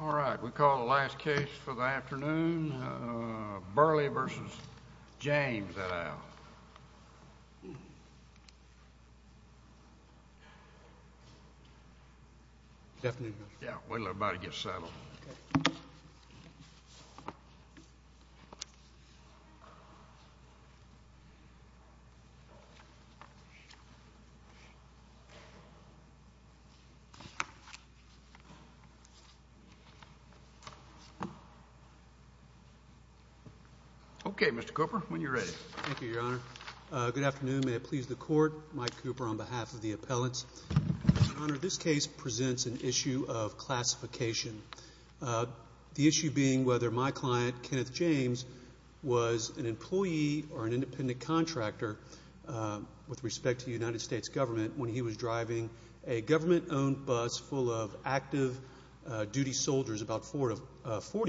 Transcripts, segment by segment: All right, we call the last case for the afternoon, Burleigh v. James, et al. Good afternoon, Mr. Cooper. Okay, Mr. Cooper, when you're ready. Thank you, Your Honor. Good afternoon. May it please the Court, Mike Cooper on behalf of the appellants. Your Honor, this case presents an issue of classification, the issue being whether my client, Kenneth James, was an employee or an independent contractor with respect to the United States government when he was driving a government-owned bus full of active duty soldiers, about 40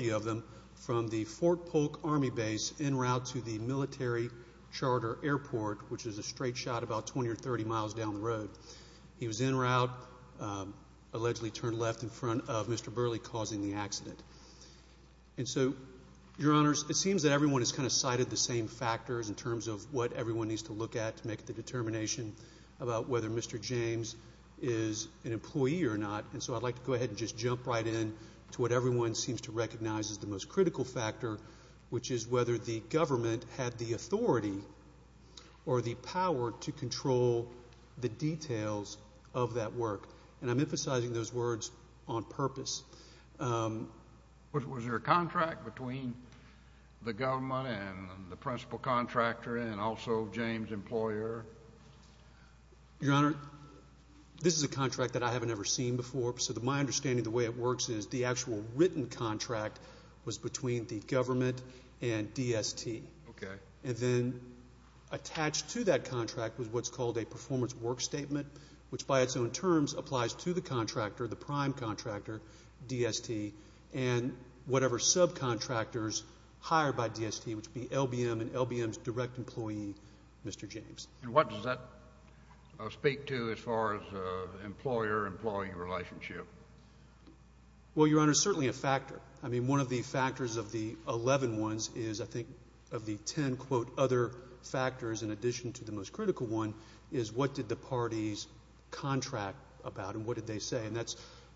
of them, from the Fort Polk Army Base en route to the Military Charter Airport, which is a straight shot about 20 or 30 miles down the road. He was en route, allegedly turned left in front of Mr. Burleigh, causing the accident. And so, Your Honors, it seems that everyone has kind of cited the same factors in terms of what everyone needs to look at to make the determination about whether Mr. James is an employee or not, and so I'd like to go ahead and just jump right in to what everyone seems to recognize as the most critical factor, which is whether the government had the authority or the power to control the details of that work. And I'm emphasizing those words on purpose. Was there a contract between the government and the principal contractor and also James' employer? Your Honor, this is a contract that I haven't ever seen before, so my understanding of the way it works is the actual written contract was between the government and DST. And then attached to that contract was what's called a performance work statement, which by its own terms applies to the contractor, the prime contractor, DST, and whatever subcontractors hired by DST, which would be LBM and LBM's direct employee, Mr. James. And what does that speak to as far as employer-employee relationship? Well, Your Honor, certainly a factor. I mean, one of the factors of the 11 ones is I think of the 10, quote, other factors in addition to the most critical one is what did the parties contract about and what did they say, and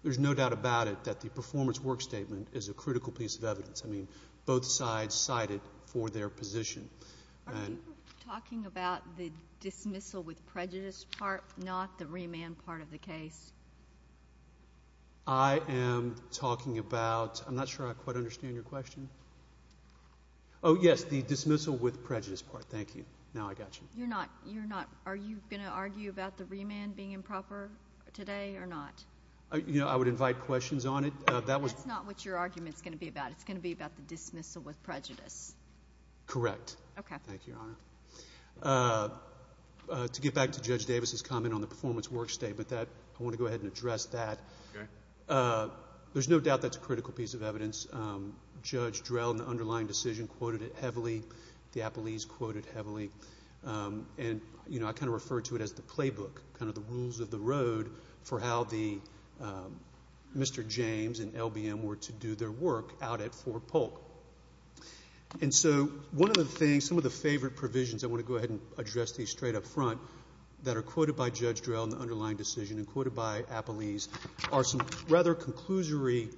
there's no doubt about it that the performance work statement is a critical piece of evidence. I mean, both sides cited for their position. Are you talking about the dismissal with prejudice part, not the remand part of the case? I am talking about – I'm not sure I quite understand your question. Oh, yes, the dismissal with prejudice part. Thank you. Now I got you. You're not – are you going to argue about the remand being improper today or not? You know, I would invite questions on it. That's not what your argument is going to be about. It's going to be about the dismissal with prejudice. Correct. Okay. Thank you, Your Honor. To get back to Judge Davis's comment on the performance work statement, I want to go ahead and address that. Okay. There's no doubt that's a critical piece of evidence. Judge Drell in the underlying decision quoted it heavily. The appellees quoted it heavily. And, you know, I kind of refer to it as the playbook, kind of the rules of the road for how Mr. James and LBM were to do their work out at Fort Polk. And so one of the things, some of the favorite provisions, I want to go ahead and address these straight up front, that are quoted by Judge Drell in the underlying decision and quoted by appellees are some rather conclusory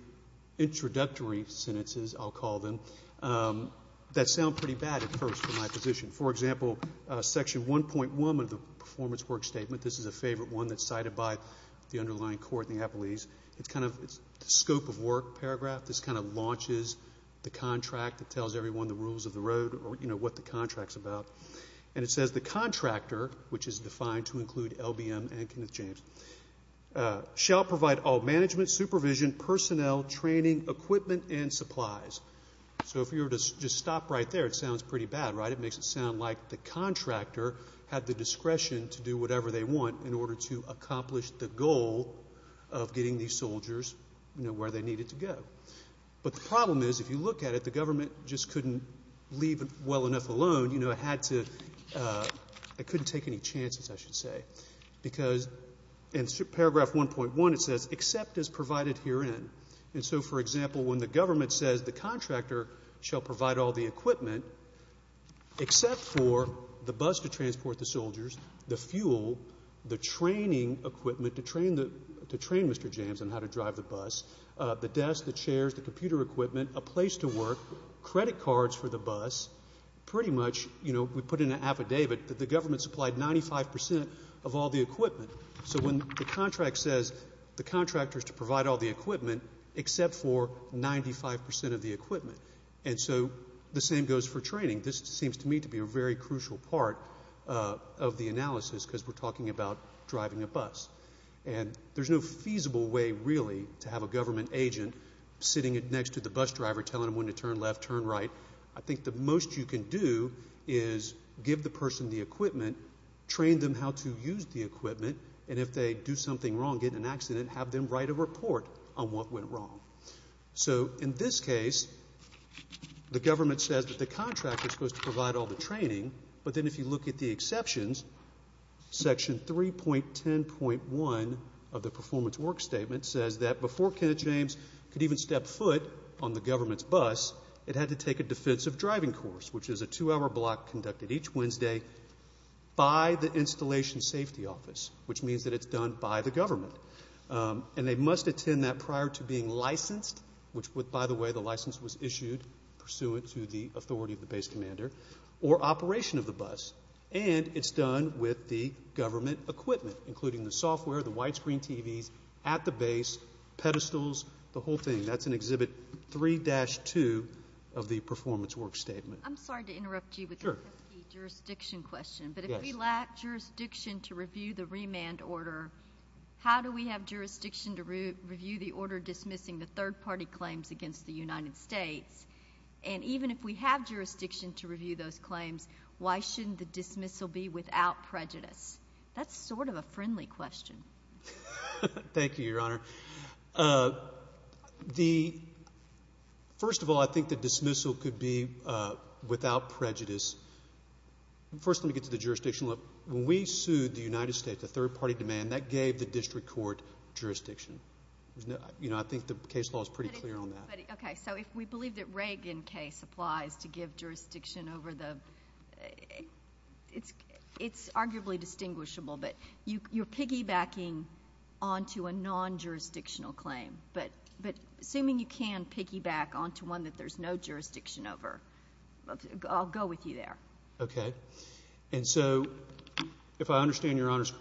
introductory sentences, I'll call them, that sound pretty bad at first for my position. For example, Section 1.1 of the performance work statement, this is a favorite one that's cited by the underlying court and the appellees. It's kind of the scope of work paragraph. This kind of launches the contract that tells everyone the rules of the road or, you know, what the contract's about. And it says, The contractor, which is defined to include LBM and Kenneth James, shall provide all management, supervision, personnel, training, equipment, and supplies. So if you were to just stop right there, it sounds pretty bad, right? It makes it sound like the contractor had the discretion to do whatever they want in order to accomplish the goal of getting these soldiers, you know, where they needed to go. But the problem is, if you look at it, the government just couldn't leave it well enough alone. You know, it had to, it couldn't take any chances, I should say. Because in Paragraph 1.1 it says, Except as provided herein. And so, for example, when the government says, The contractor shall provide all the equipment except for the bus to transport the soldiers, the fuel, the training equipment to train Mr. James on how to drive the bus, the desk, the chairs, the computer equipment, a place to work, credit cards for the bus, pretty much, you know, we put in an affidavit that the government supplied 95% of all the equipment. So when the contract says, The contractor is to provide all the equipment except for 95% of the equipment. And so the same goes for training. This seems to me to be a very crucial part of the analysis because we're talking about driving a bus. And there's no feasible way, really, to have a government agent sitting next to the bus driver telling him when to turn left, turn right. train them how to use the equipment. And if they do something wrong, get in an accident, have them write a report on what went wrong. So in this case, the government says that the contractor is supposed to provide all the training. But then if you look at the exceptions, Section 3.10.1 of the Performance Works Statement says that before Kenneth James could even step foot on the government's bus, it had to take a defensive driving course, which is a two-hour block conducted each Wednesday by the Installation Safety Office, which means that it's done by the government. And they must attend that prior to being licensed, which, by the way, the license was issued pursuant to the authority of the base commander, or operation of the bus. And it's done with the government equipment, including the software, the widescreen TVs at the base, pedestals, the whole thing. That's in Exhibit 3-2 of the Performance Works Statement. I'm sorry to interrupt you with the jurisdiction question. But if we lack jurisdiction to review the remand order, how do we have jurisdiction to review the order dismissing the third-party claims against the United States? And even if we have jurisdiction to review those claims, why shouldn't the dismissal be without prejudice? That's sort of a friendly question. Thank you, Your Honor. First of all, I think the dismissal could be without prejudice. First, let me get to the jurisdiction. When we sued the United States, the third-party demand, that gave the district court jurisdiction. I think the case law is pretty clear on that. Okay. So if we believe that Reagan case applies to give jurisdiction over the ‑‑ It's arguably distinguishable, but you're piggybacking onto a non-jurisdictional claim. But assuming you can piggyback onto one that there's no jurisdiction over, I'll go with you there. Okay. And so if I understand your honors,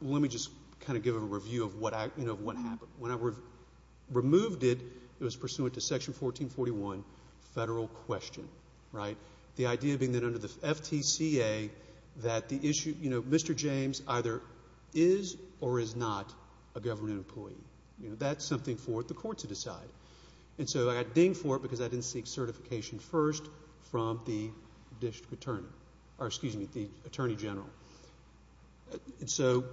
let me just kind of give a review of what happened. When I removed it, it was pursuant to Section 1441, federal question, right? The idea being that under the FTCA, that the issue, you know, Mr. James either is or is not a government employee. You know, that's something for the court to decide. And so I got dinged for it because I didn't seek certification first from the district attorney. Or excuse me, the attorney general. And so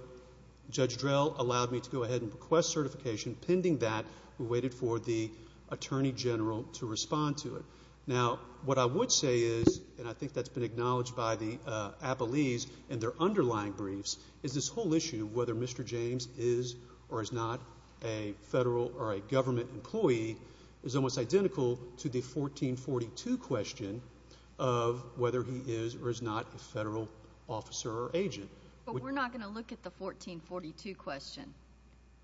Judge Drell allowed me to go ahead and request certification. Pending that, we waited for the attorney general to respond to it. Now, what I would say is, and I think that's been acknowledged by the Applees and their underlying briefs, is this whole issue of whether Mr. James is or is not a federal or a government employee is almost identical to the 1442 question of whether he is or is not a federal officer or agent. But we're not going to look at the 1442 question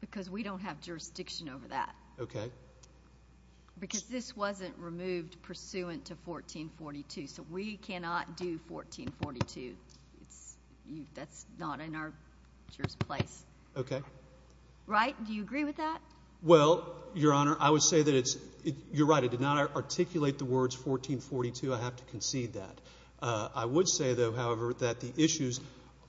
because we don't have jurisdiction over that. Okay. Because this wasn't removed pursuant to 1442. So we cannot do 1442. That's not in our place. Okay. Right? Do you agree with that? Well, Your Honor, I would say that it's, you're right, I did not articulate the words 1442. I have to concede that. I would say, though, however, that the issues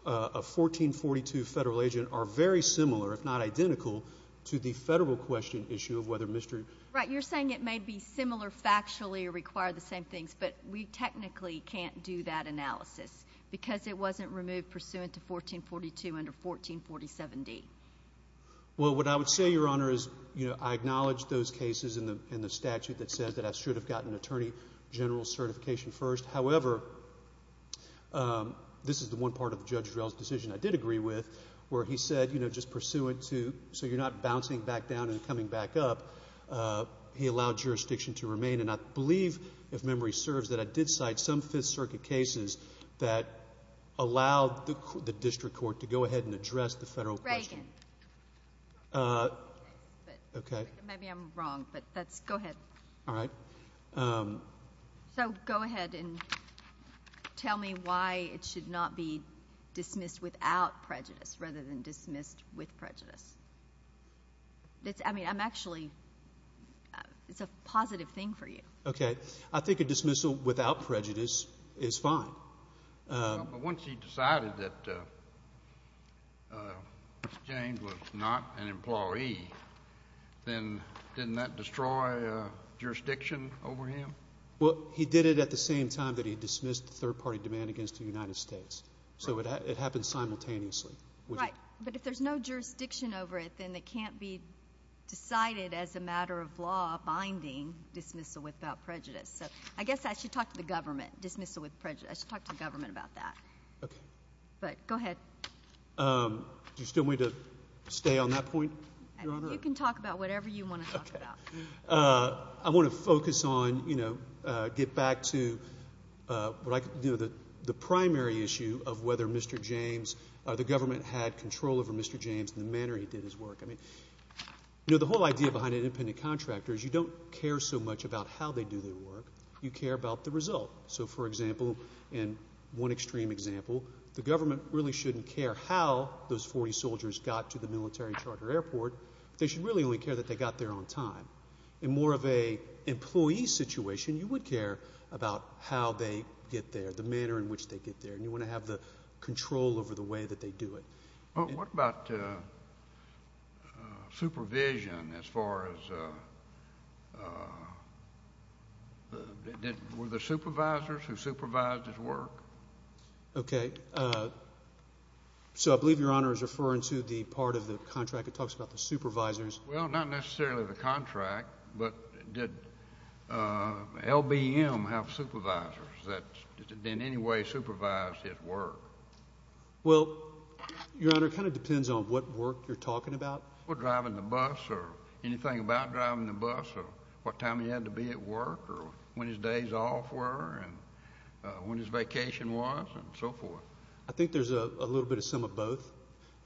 of 1442, federal agent, are very similar, if not identical, to the federal question issue of whether Mr. Right. You're saying it may be similar factually or require the same things, but we technically can't do that analysis because it wasn't removed pursuant to 1442 under 1447D. Well, what I would say, Your Honor, is I acknowledge those cases in the statute that says that I should have gotten attorney general certification first. However, this is the one part of Judge Drell's decision I did agree with, where he said, you know, just pursuant to, so you're not bouncing back down and coming back up. He allowed jurisdiction to remain, and I believe, if memory serves, that I did cite some Fifth Circuit cases that allowed the district court to go ahead and address the federal question. Reagan. Okay. Maybe I'm wrong, but that's, go ahead. All right. So go ahead and tell me why it should not be dismissed without prejudice rather than dismissed with prejudice. I mean, I'm actually, it's a positive thing for you. Okay. I think a dismissal without prejudice is fine. But once he decided that James was not an employee, then didn't that destroy jurisdiction over him? Well, he did it at the same time that he dismissed third-party demand against the United States. So it happened simultaneously. Right, but if there's no jurisdiction over it, then it can't be decided as a matter of law binding dismissal without prejudice. So I guess I should talk to the government. I should talk to the government about that. Okay. But go ahead. Do you still want me to stay on that point, Your Honor? You can talk about whatever you want to talk about. Okay. I want to focus on, you know, get back to the primary issue of whether Mr. James, the government had control over Mr. James and the manner he did his work. I mean, you know, the whole idea behind an independent contractor is you don't care so much about how they do their work. You care about the result. So, for example, in one extreme example, the government really shouldn't care how those 40 soldiers got to the military charter airport. They should really only care that they got there on time. In more of an employee situation, you would care about how they get there, the manner in which they get there, and you want to have the control over the way that they do it. Well, what about supervision as far as were there supervisors who supervised his work? Okay. So I believe Your Honor is referring to the part of the contract that talks about the supervisors. Well, not necessarily the contract, but did LBM have supervisors that in any way supervised his work? Well, Your Honor, it kind of depends on what work you're talking about. Driving the bus or anything about driving the bus or what time he had to be at work or when his days off were and when his vacation was and so forth. I think there's a little bit of some of both.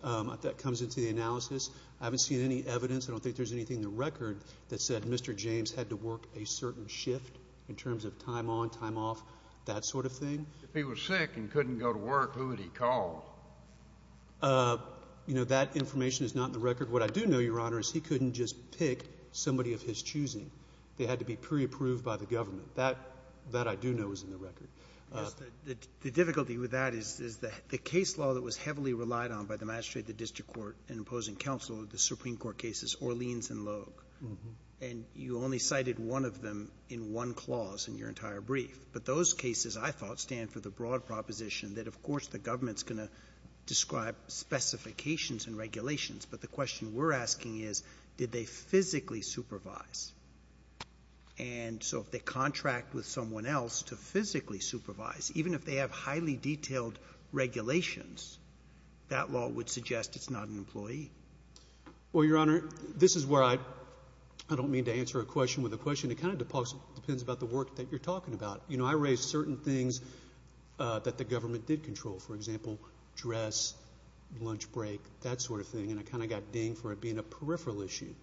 That comes into the analysis. I haven't seen any evidence, I don't think there's anything in the record, that said Mr. James had to work a certain shift in terms of time on, time off, that sort of thing. If he was sick and couldn't go to work, who would he call? You know, that information is not in the record. What I do know, Your Honor, is he couldn't just pick somebody of his choosing. They had to be pre-approved by the government. That I do know is in the record. The difficulty with that is the case law that was heavily relied on by the magistrate, the district court, and opposing counsel, the Supreme Court cases, Orleans and Logue, and you only cited one of them in one clause in your entire brief. But those cases, I thought, stand for the broad proposition that, of course, the government's going to describe specifications and regulations, but the question we're asking is did they physically supervise? And so if they contract with someone else to physically supervise, even if they have highly detailed regulations, that law would suggest it's not an employee. Well, Your Honor, this is where I don't mean to answer a question with a question. It kind of depends about the work that you're talking about. You know, I raised certain things that the government did control. For example, dress, lunch break, that sort of thing, and I kind of got dinged for it being a peripheral issue.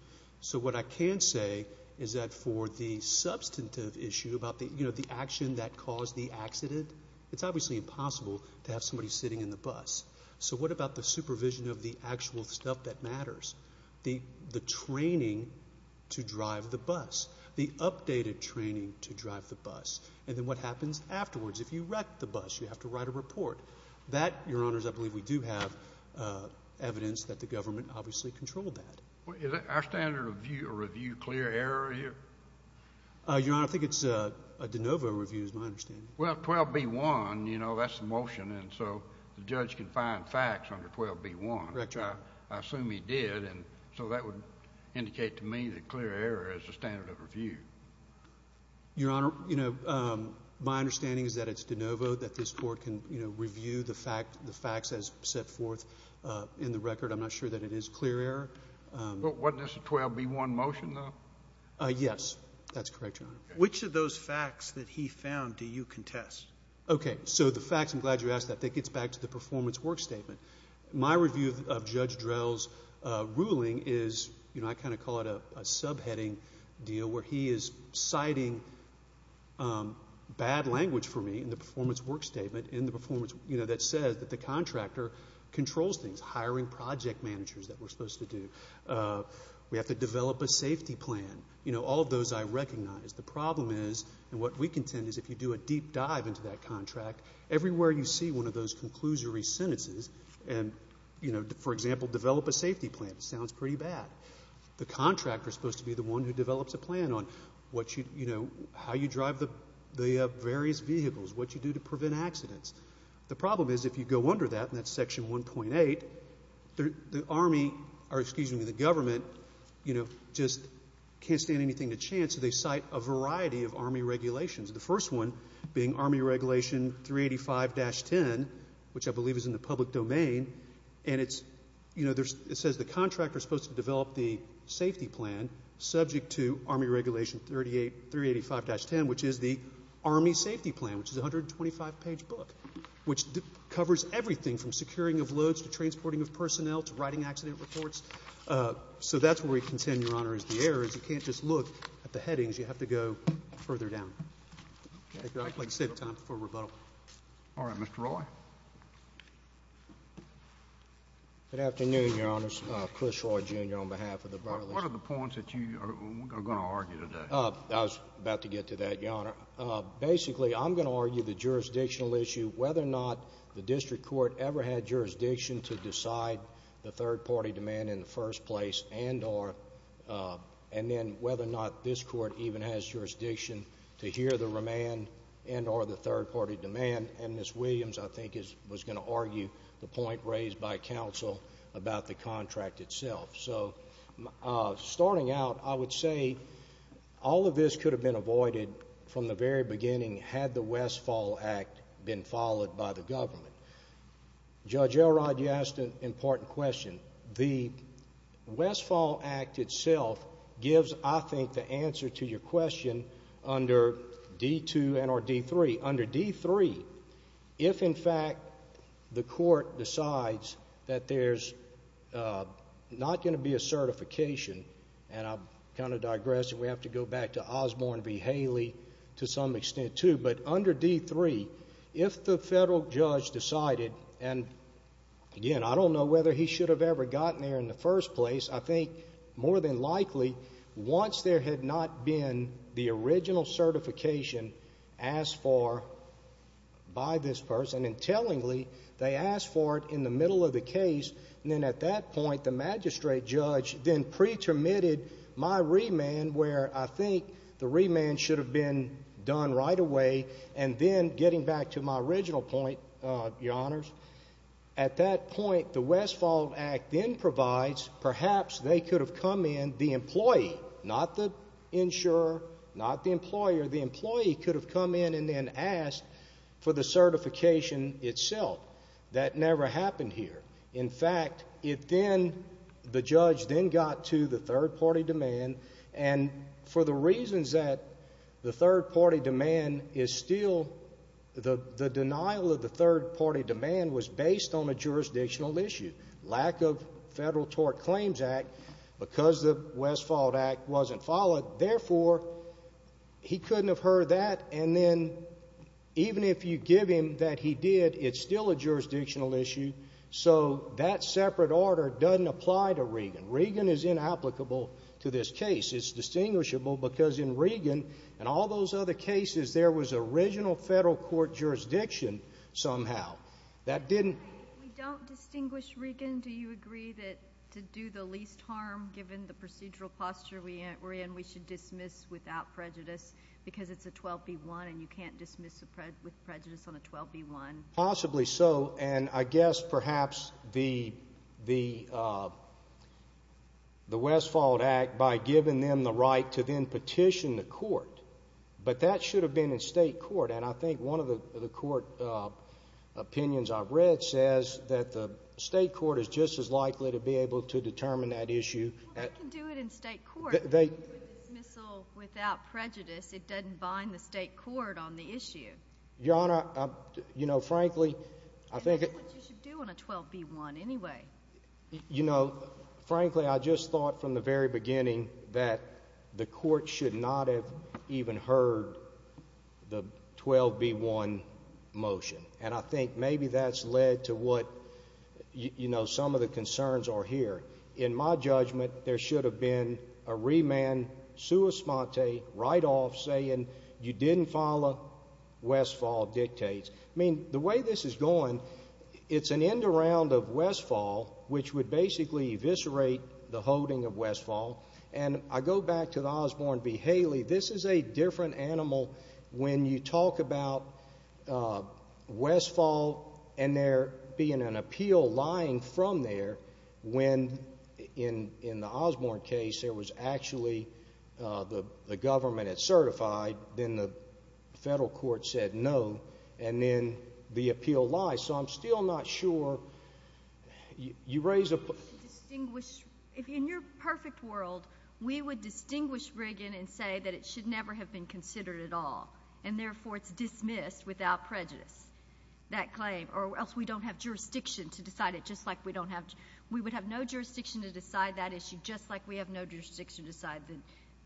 So what I can say is that for the substantive issue about the action that caused the accident, it's obviously impossible to have somebody sitting in the bus. So what about the supervision of the actual stuff that matters, the training to drive the bus, the updated training to drive the bus, and then what happens afterwards? If you wreck the bus, you have to write a report. That, Your Honors, I believe we do have evidence that the government obviously controlled that. Is our standard of review a review clear error here? Your Honor, I think it's a de novo review is my understanding. Well, 12b-1, you know, that's the motion, and so the judge can find facts under 12b-1. Correct, Your Honor. I assume he did, and so that would indicate to me that clear error is the standard of review. Your Honor, you know, my understanding is that it's de novo, that this Court can, you know, review the facts as set forth in the record. I'm not sure that it is clear error. Wasn't this a 12b-1 motion, though? Yes. That's correct, Your Honor. Which of those facts that he found do you contest? Okay. So the facts, I'm glad you asked that. That gets back to the performance work statement. My review of Judge Drell's ruling is, you know, I kind of call it a subheading deal where he is citing bad language for me in the performance work statement that says that the contractor controls things, hiring project managers that we're supposed to do. We have to develop a safety plan. You know, all of those I recognize. The problem is, and what we contend, is if you do a deep dive into that contract, everywhere you see one of those conclusory sentences and, you know, for example, develop a safety plan, it sounds pretty bad. The contractor is supposed to be the one who develops a plan on what you, you know, how you drive the various vehicles, what you do to prevent accidents. The problem is if you go under that, and that's Section 1.8, the Army, or excuse me, the government, you know, just can't stand anything to chance, so they cite a variety of Army regulations, the first one being Army Regulation 385-10, which I believe is in the public domain, and it's, you know, it says the contractor is supposed to develop the safety plan subject to Army Regulation 385-10, which is the Army safety plan, which is a 125-page book, which covers everything from securing of loads to transporting of personnel to writing accident reports. So that's where we contend, Your Honor, is the error, is you can't just look at the headings. You have to go further down. I'd like to save time for rebuttal. All right. Mr. Roy? Good afternoon, Your Honors. Chris Roy, Jr., on behalf of the Bar List. What are the points that you are going to argue today? I was about to get to that, Your Honor. Basically, I'm going to argue the jurisdictional issue, whether or not the district court ever had jurisdiction to decide the third-party demand in the first place, and then whether or not this court even has jurisdiction to hear the remand and or the third-party demand. And Ms. Williams, I think, was going to argue the point raised by counsel about the contract itself. So starting out, I would say all of this could have been avoided from the very beginning had the Westfall Act been followed by the government. Judge Elrod, you asked an important question. The Westfall Act itself gives, I think, the answer to your question under D-2 and or D-3. Under D-3, if, in fact, the court decides that there's not going to be a certification, and I'm kind of digressing. We have to go back to Osborne v. Haley to some extent, too. But under D-3, if the federal judge decided, and again, I don't know whether he should have ever gotten there in the first place. I think more than likely, once there had not been the original certification asked for by this person, and tellingly, they asked for it in the middle of the case, and then at that point, the magistrate judge then pre-termitted my remand, where I think the remand should have been done right away. And then getting back to my original point, Your Honors, at that point, the Westfall Act then provides, perhaps they could have come in, the employee, not the insurer, not the employer. The employee could have come in and then asked for the certification itself. That never happened here. In fact, it then, the judge then got to the third-party demand, and for the reasons that the third-party demand is still, the denial of the third-party demand was based on a jurisdictional issue. Lack of federal tort claims act, because the Westfall Act wasn't followed, therefore, he couldn't have heard that, and then even if you give him that he did, it's still a jurisdictional issue, so that separate order doesn't apply to Regan. Regan is inapplicable to this case. It's distinguishable because in Regan and all those other cases, there was original federal court jurisdiction somehow. That didn't – We don't distinguish Regan. Do you agree that to do the least harm, given the procedural posture we're in, we should dismiss without prejudice because it's a 12B1 and you can't dismiss with prejudice on a 12B1? Possibly so, and I guess perhaps the Westfall Act, by giving them the right to then petition the court, but that should have been in state court, and I think one of the court opinions I've read says that the state court is just as likely to be able to determine that issue. Well, they can do it in state court. They can do a dismissal without prejudice. It doesn't bind the state court on the issue. Your Honor, you know, frankly, I think – That's what you should do on a 12B1 anyway. You know, frankly, I just thought from the very beginning that the court should not have even heard the 12B1 motion, and I think maybe that's led to what, you know, some of the concerns are here. In my judgment, there should have been a remand sua sponte right off saying you didn't follow Westfall dictates. I mean, the way this is going, it's an end around of Westfall, which would basically eviscerate the holding of Westfall, and I go back to the Osborne v. Haley. This is a different animal. When you talk about Westfall and there being an appeal lying from there when, in the Osborne case, there was actually the government had certified, then the federal court said no, and then the appeal lies. So I'm still not sure. In your perfect world, we would distinguish Brigham and say that it should never have been considered at all, and therefore it's dismissed without prejudice, that claim, or else we don't have jurisdiction to decide it just like we don't have – we would have no jurisdiction to decide that issue just like we have no jurisdiction to decide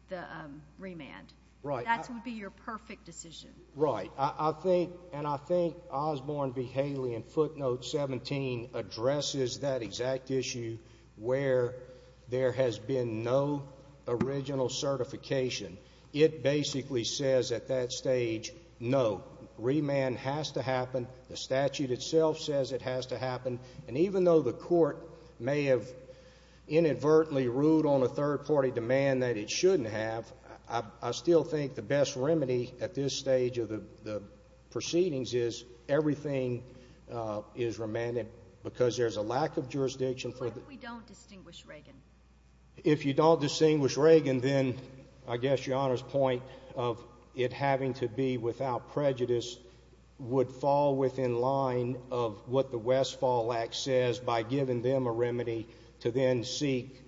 the remand. That would be your perfect decision. Right. I think – and I think Osborne v. Haley in footnote 17 addresses that exact issue where there has been no original certification. It basically says at that stage, no, remand has to happen. The statute itself says it has to happen, and even though the court may have inadvertently ruled on a third-party demand that it shouldn't have, I still think the best remedy at this stage of the proceedings is everything is remanded because there's a lack of jurisdiction for the – What if we don't distinguish Reagan? If you don't distinguish Reagan, then I guess Your Honor's point of it having to be without prejudice would fall within line of what the Westfall Act says by giving them a remedy to then seek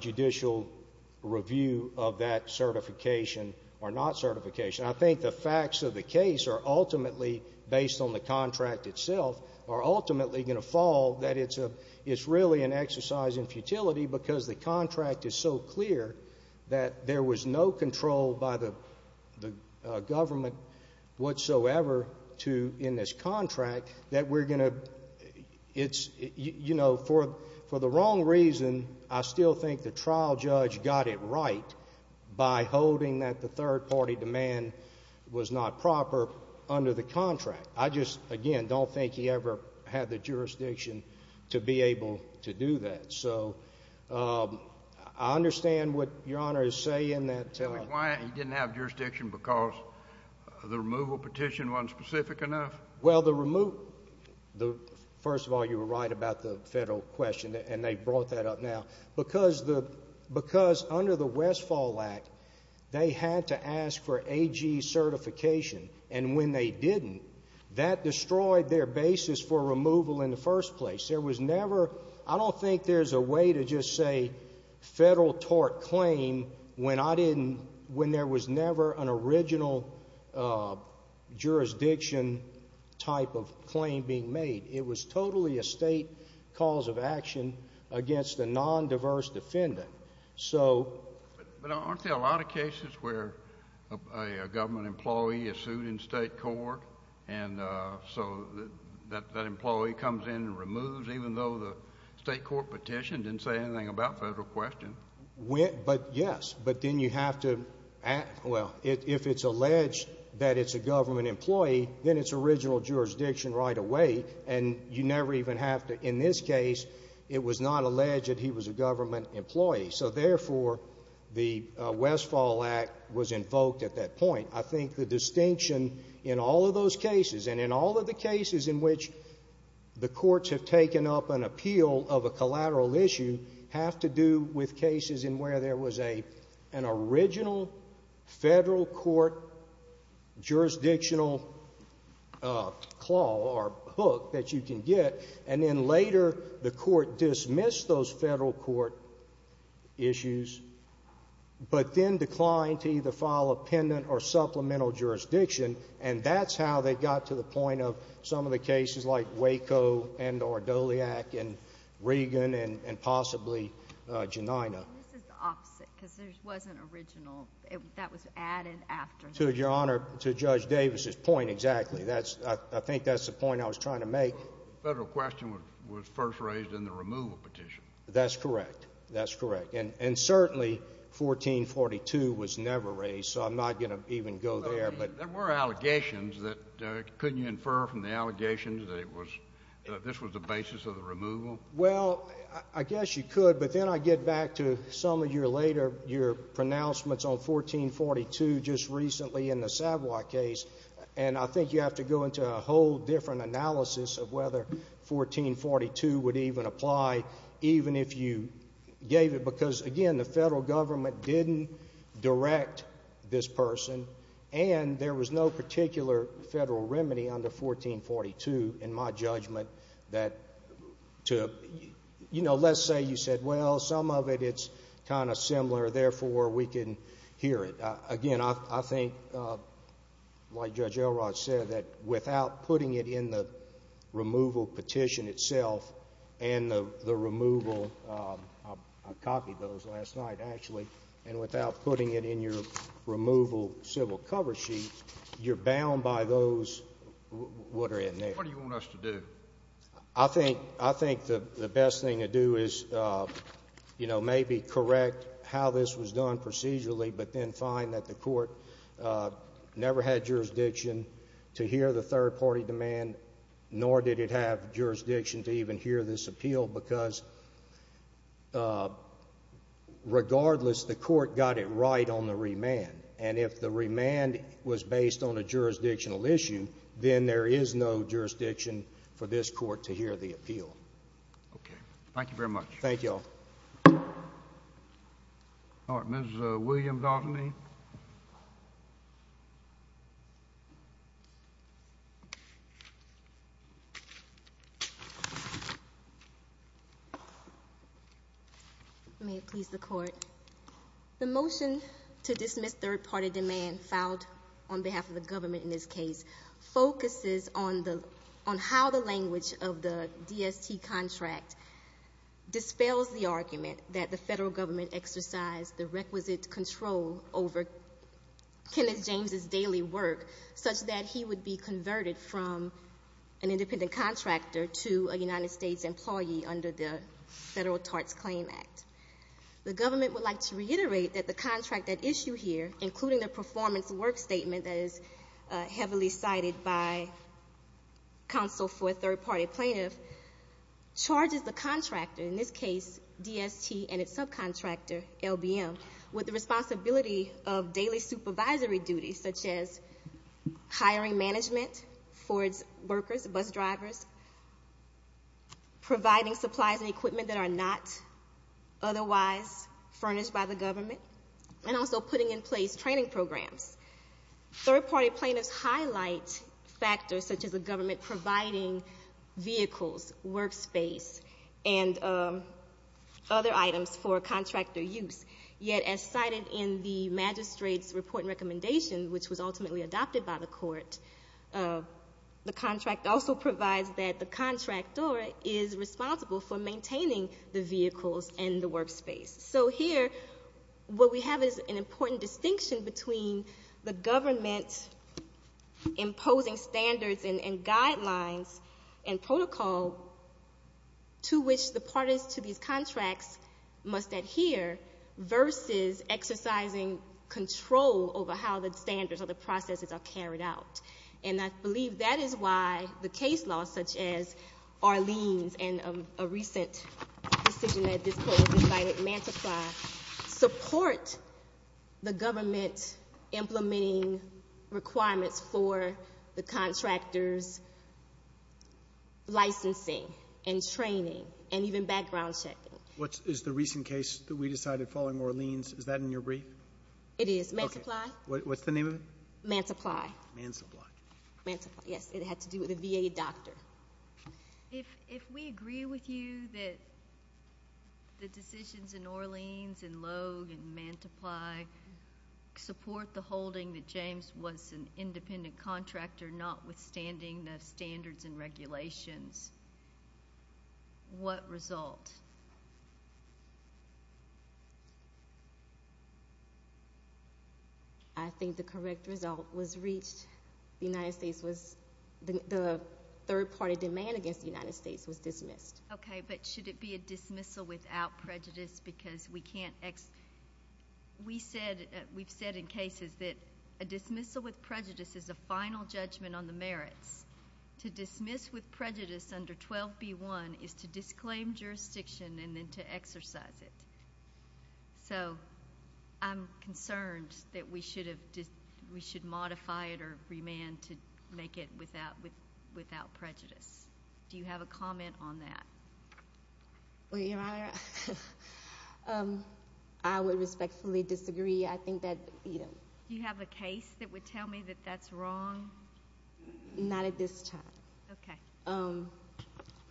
judicial review of that certification or not certification. I think the facts of the case are ultimately, based on the contract itself, are ultimately going to fall that it's a – it's really an exercise in futility because the contract is so clear that there was no control by the government whatsoever to – For the wrong reason, I still think the trial judge got it right by holding that the third-party demand was not proper under the contract. I just, again, don't think he ever had the jurisdiction to be able to do that. So I understand what Your Honor is saying that – Why he didn't have jurisdiction because the removal petition wasn't specific enough? Well, the – first of all, you were right about the federal question, and they brought that up now. Because under the Westfall Act, they had to ask for AG certification, and when they didn't, that destroyed their basis for removal in the first place. There was never – I don't think there's a way to just say federal tort claim when I didn't – type of claim being made. It was totally a state cause of action against a nondiverse defendant. So – But aren't there a lot of cases where a government employee is sued in state court and so that employee comes in and removes, even though the state court petition didn't say anything about federal question? But, yes, but then you have to – well, if it's alleged that it's a government employee, then it's original jurisdiction right away, and you never even have to – in this case, it was not alleged he was a government employee. So, therefore, the Westfall Act was invoked at that point. I think the distinction in all of those cases and in all of the cases in which the courts have taken up an appeal of a collateral issue have to do with cases in where there was an original federal court jurisdictional claw or book that you can get, and then later the court dismissed those federal court issues, but then declined to either file a pendant or supplemental jurisdiction, and that's how they got to the point of some of the cases like Waco and – or Doliac and Regan and possibly Janina. And this is the opposite, because there wasn't original. That was added after. To Your Honor, to Judge Davis's point exactly. That's – I think that's the point I was trying to make. The federal question was first raised in the removal petition. That's correct. That's correct. And certainly 1442 was never raised, so I'm not going to even go there. But there were allegations that – couldn't you infer from the allegations that it was – that this was the basis of the removal? Well, I guess you could, but then I get back to some of your later – your pronouncements on 1442 just recently in the Savoy case, and I think you have to go into a whole different analysis of whether 1442 would even apply even if you gave it, because, again, the federal government didn't direct this person, and there was no particular federal remedy under 1442, in my judgment, that to – you know, let's say you said, well, some of it, it's kind of similar, therefore we can hear it. Again, I think, like Judge Elrod said, that without putting it in the removal petition itself and the removal – I copied those last night, actually – and without putting it in your removal civil cover sheet, you're bound by those that are in there. What do you want us to do? I think the best thing to do is, you know, maybe correct how this was done procedurally but then find that the court never had jurisdiction to hear the third-party demand, nor did it have jurisdiction to even hear this appeal because, regardless, the court got it right on the remand, and if the remand was based on a jurisdictional issue, then there is no jurisdiction for this court to hear the appeal. Okay. Thank you very much. Thank you all. All right. Ms. William-Daltony. May it please the Court. The motion to dismiss third-party demand filed on behalf of the government in this case focuses on how the language of the DST contract dispels the argument that the Federal Government exercised the requisite control over Kenneth James' daily work such that he would be converted from an independent contractor to a United States employee under the Federal TARTS Claim Act. The government would like to reiterate that the contract at issue here, including the performance work statement that is heavily cited by counsel for a third-party plaintiff, charges the contractor, in this case DST and its subcontractor, LBM, with the responsibility of daily supervisory duties such as hiring management for its workers, bus drivers, providing supplies and equipment that are not otherwise furnished by the government, and also putting in place training programs. Third-party plaintiffs highlight factors such as the government providing vehicles, workspace, and other items for contractor use. Yet as cited in the magistrate's report and recommendation, which was ultimately adopted by the court, the contract also provides that the contractor is responsible for maintaining the vehicles and the workspace. So here what we have is an important distinction between the government imposing standards and guidelines and protocol to which the parties to these contracts must adhere versus exercising control over how the standards or the processes are carried out. And I believe that is why the case laws such as Arlene's and a recent decision that this Court has cited, Mantiply, support the government implementing requirements for the contractor's licensing and training and even background checking. What is the recent case that we decided following Arlene's? Is that in your brief? It is. Mantiply? What's the name of it? Mantiply. Mantiply. Mantiply, yes. It had to do with a VA doctor. If we agree with you that the decisions in Arlene's and Logue and Mantiply support the holding that James was an independent contractor notwithstanding the standards and regulations, what result? I think the correct result was reached. The United States was—the third-party demand against the United States was dismissed. Okay, but should it be a dismissal without prejudice because we can't—we've said in cases that a dismissal with prejudice is a final judgment on the merits. To dismiss with prejudice under 12B1 is to disclaim jurisdiction and then to exercise it. So I'm concerned that we should modify it or remand to make it without prejudice. Do you have a comment on that? Well, Your Honor, I would respectfully disagree. I think that— Do you have a case that would tell me that that's wrong? Not at this time. Okay.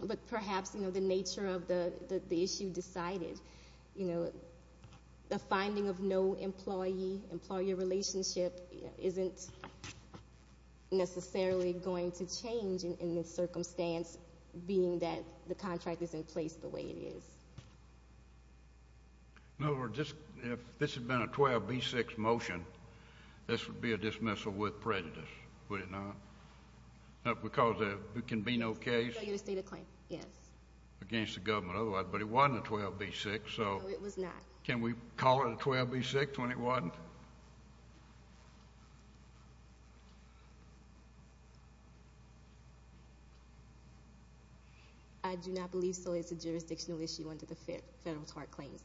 But perhaps, you know, the nature of the issue decided. You know, the finding of no employee-employee relationship isn't necessarily going to change in the circumstance being that the contract is in place the way it is. In other words, if this had been a 12B6 motion, this would be a dismissal with prejudice, would it not? Because there can be no case against the government otherwise, but it wasn't a 12B6, so— No, it was not. Can we call it a 12B6 when it wasn't? Your Honor? I do not believe so. It's a jurisdictional issue under the federal tort claims.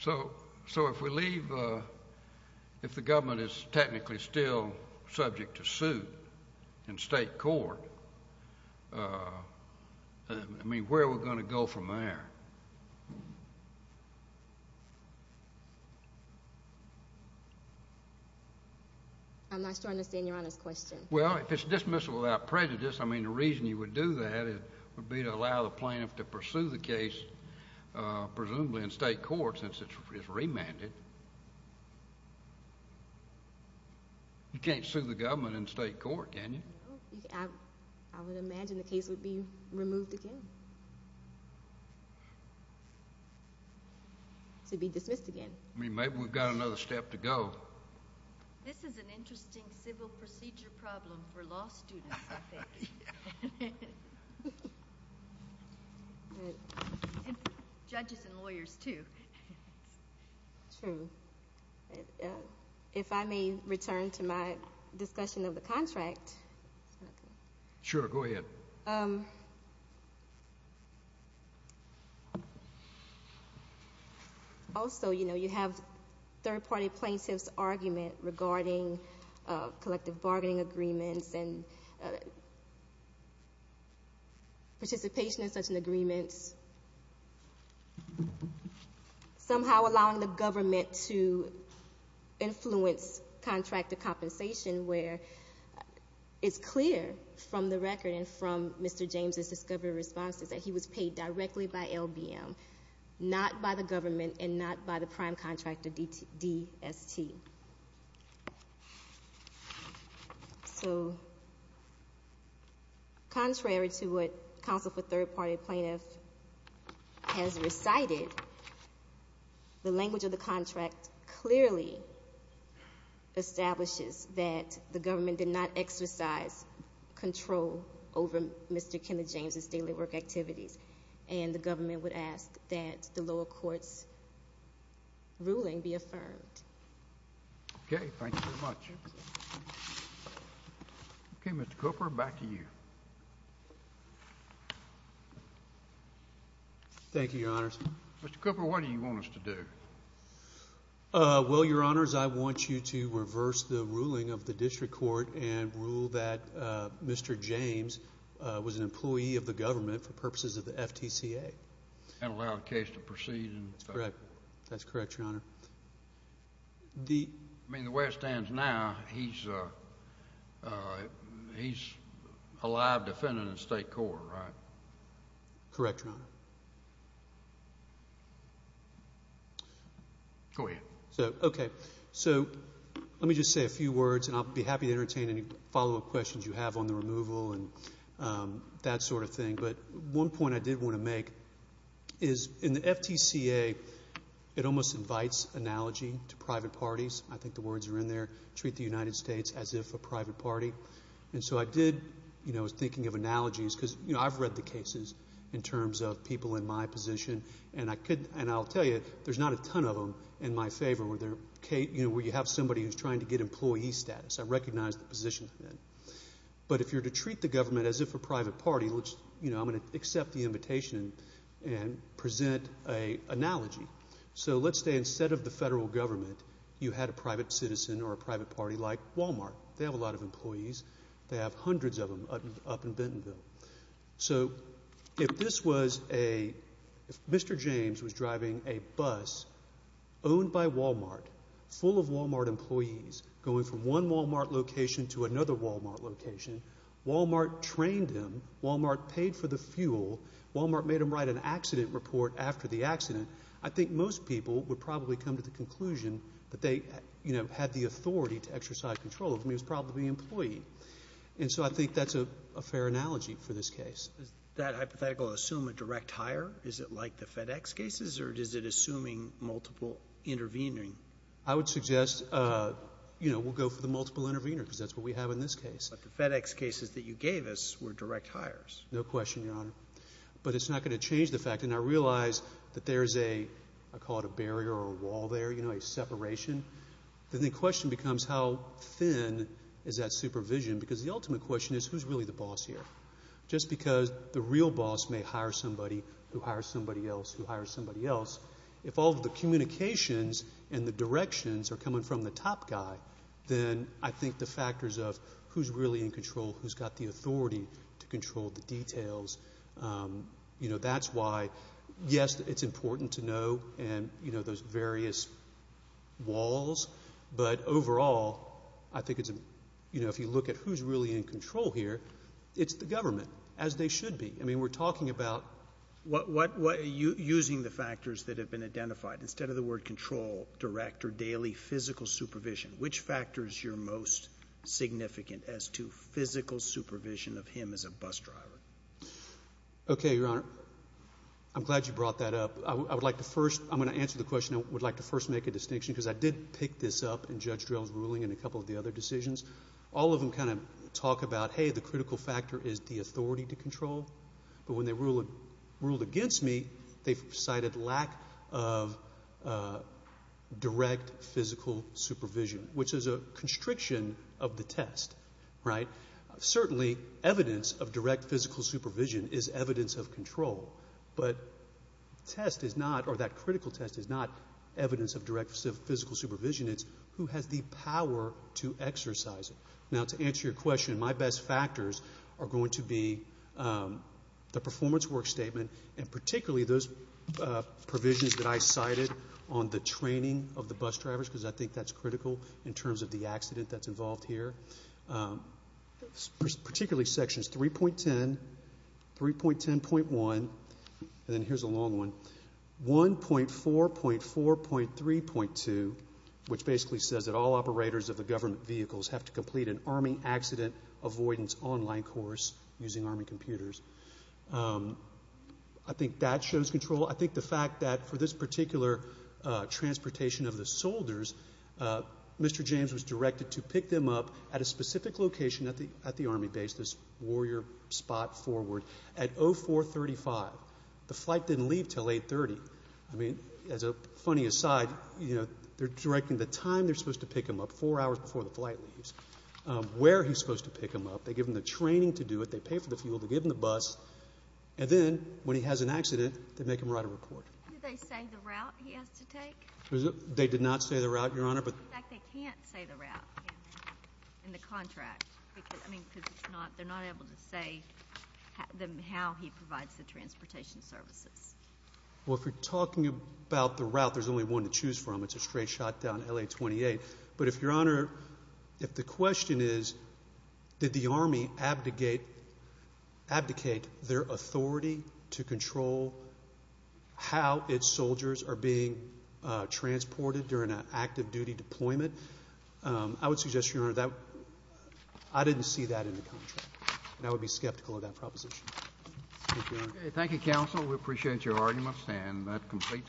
So if we leave—if the government is technically still subject to suit in state court, I mean, where are we going to go from there? I'm not sure I understand Your Honor's question. Well, if it's dismissal without prejudice, I mean, the reason you would do that would be to allow the plaintiff to pursue the case, presumably in state court since it's remanded. You can't sue the government in state court, can you? I would imagine the case would be removed again. It would be dismissed again. I mean, maybe we've got another step to go. This is an interesting civil procedure problem for law students, I think. Judges and lawyers, too. True. If I may return to my discussion of the contract. Sure, go ahead. Also, you know, you have third-party plaintiffs' argument regarding collective bargaining agreements and participation in such agreements somehow allowing the government to influence contract to compensation where it's clear from the record and from Mr. James' discovery responses that he was paid directly by LBM, not by the government and not by the prime contractor, DST. So contrary to what counsel for third-party plaintiffs has recited, the language of the contract clearly establishes that the government did not exercise control over Mr. Kenneth James' daily work activities, and the government would ask that the lower court's ruling be affirmed. Okay. Thank you very much. Okay, Mr. Cooper, back to you. Thank you, Your Honors. Mr. Cooper, what do you want us to do? Well, Your Honors, I want you to reverse the ruling of the district court and rule that Mr. James was an employee of the government for purposes of the FTCA. And allow the case to proceed. That's correct, Your Honor. I mean, the way it stands now, he's a live defendant in the state court, right? Correct, Your Honor. Go ahead. Okay. So let me just say a few words, and I'll be happy to entertain any follow-up questions you have on the removal and that sort of thing. But one point I did want to make is in the FTCA, it almost invites analogy to private parties. I think the words are in there, treat the United States as if a private party. And so I did, you know, I was thinking of analogies because, you know, I've read the cases in terms of people in my position, and I'll tell you, there's not a ton of them in my favor where you have somebody who's trying to get employee status. I recognize the position. But if you're to treat the government as if a private party, which, you know, I'm going to accept the invitation and present an analogy. So let's say instead of the federal government, you had a private citizen or a private party like Walmart. They have a lot of employees. They have hundreds of them up in Bentonville. So if this was a, if Mr. James was driving a bus owned by Walmart, full of Walmart employees going from one Walmart location to another Walmart location, Walmart trained him, Walmart paid for the fuel, Walmart made him write an accident report after the accident, I think most people would probably come to the conclusion that they, you know, had the authority to exercise control of him. He was probably an employee. And so I think that's a fair analogy for this case. Does that hypothetical assume a direct hire? Is it like the FedEx cases or is it assuming multiple intervening? I would suggest, you know, we'll go for the multiple intervener because that's what we have in this case. But the FedEx cases that you gave us were direct hires. No question, Your Honor. But it's not going to change the fact. And I realize that there's a, I call it a barrier or a wall there, you know, a separation. Then the question becomes how thin is that supervision? Because the ultimate question is who's really the boss here? Just because the real boss may hire somebody who hires somebody else who hires somebody else, if all the communications and the directions are coming from the top guy, then I think the factors of who's really in control, who's got the authority to control the details, you know, that's why, yes, it's important to know and, you know, those various walls. But overall, I think it's, you know, if you look at who's really in control here, it's the government, as they should be. I mean, we're talking about. Using the factors that have been identified, instead of the word control, director, daily, physical supervision, which factor is your most significant as to physical supervision of him as a bus driver? Okay, Your Honor. I'm glad you brought that up. I would like to first, I'm going to answer the question. I would like to first make a distinction because I did pick this up in Judge Drell's ruling and a couple of the other decisions. All of them kind of talk about, hey, the critical factor is the authority to control. But when they ruled against me, they cited lack of direct physical supervision, which is a constriction of the test, right? Certainly, evidence of direct physical supervision is evidence of control. But test is not, or that critical test is not evidence of direct physical supervision. It's who has the power to exercise it. Now, to answer your question, my best factors are going to be the performance work statement and particularly those provisions that I cited on the training of the bus drivers because I think that's critical in terms of the accident that's involved here. Particularly sections 3.10, 3.10.1, and then here's a long one, 1.4.4.3.2, which basically says that all operators of the government vehicles have to complete an Army accident avoidance online course using Army computers. I think that shows control. I think the fact that for this particular transportation of the soldiers, Mr. James was directed to pick them up at a specific location at the Army base, this warrior spot forward, at 0435. The flight didn't leave until 830. I mean, as a funny aside, you know, they're directing the time they're supposed to pick them up, four hours before the flight leaves, where he's supposed to pick them up. They give them the training to do it. They pay for the fuel. They give them the bus. And then when he has an accident, they make him write a report. Did they say the route he has to take? They did not say the route, Your Honor. In fact, they can't say the route in the contract. I mean, because they're not able to say how he provides the transportation services. Well, if we're talking about the route, there's only one to choose from. It's a straight shot down LA-28. But if, Your Honor, if the question is did the Army abdicate their authority to control how its soldiers are being transported during an active-duty deployment, I would suggest, Your Honor, that I didn't see that in the contract. And I would be skeptical of that proposition. Thank you, Your Honor. Thank you, counsel. We appreciate your arguments, and that completes it.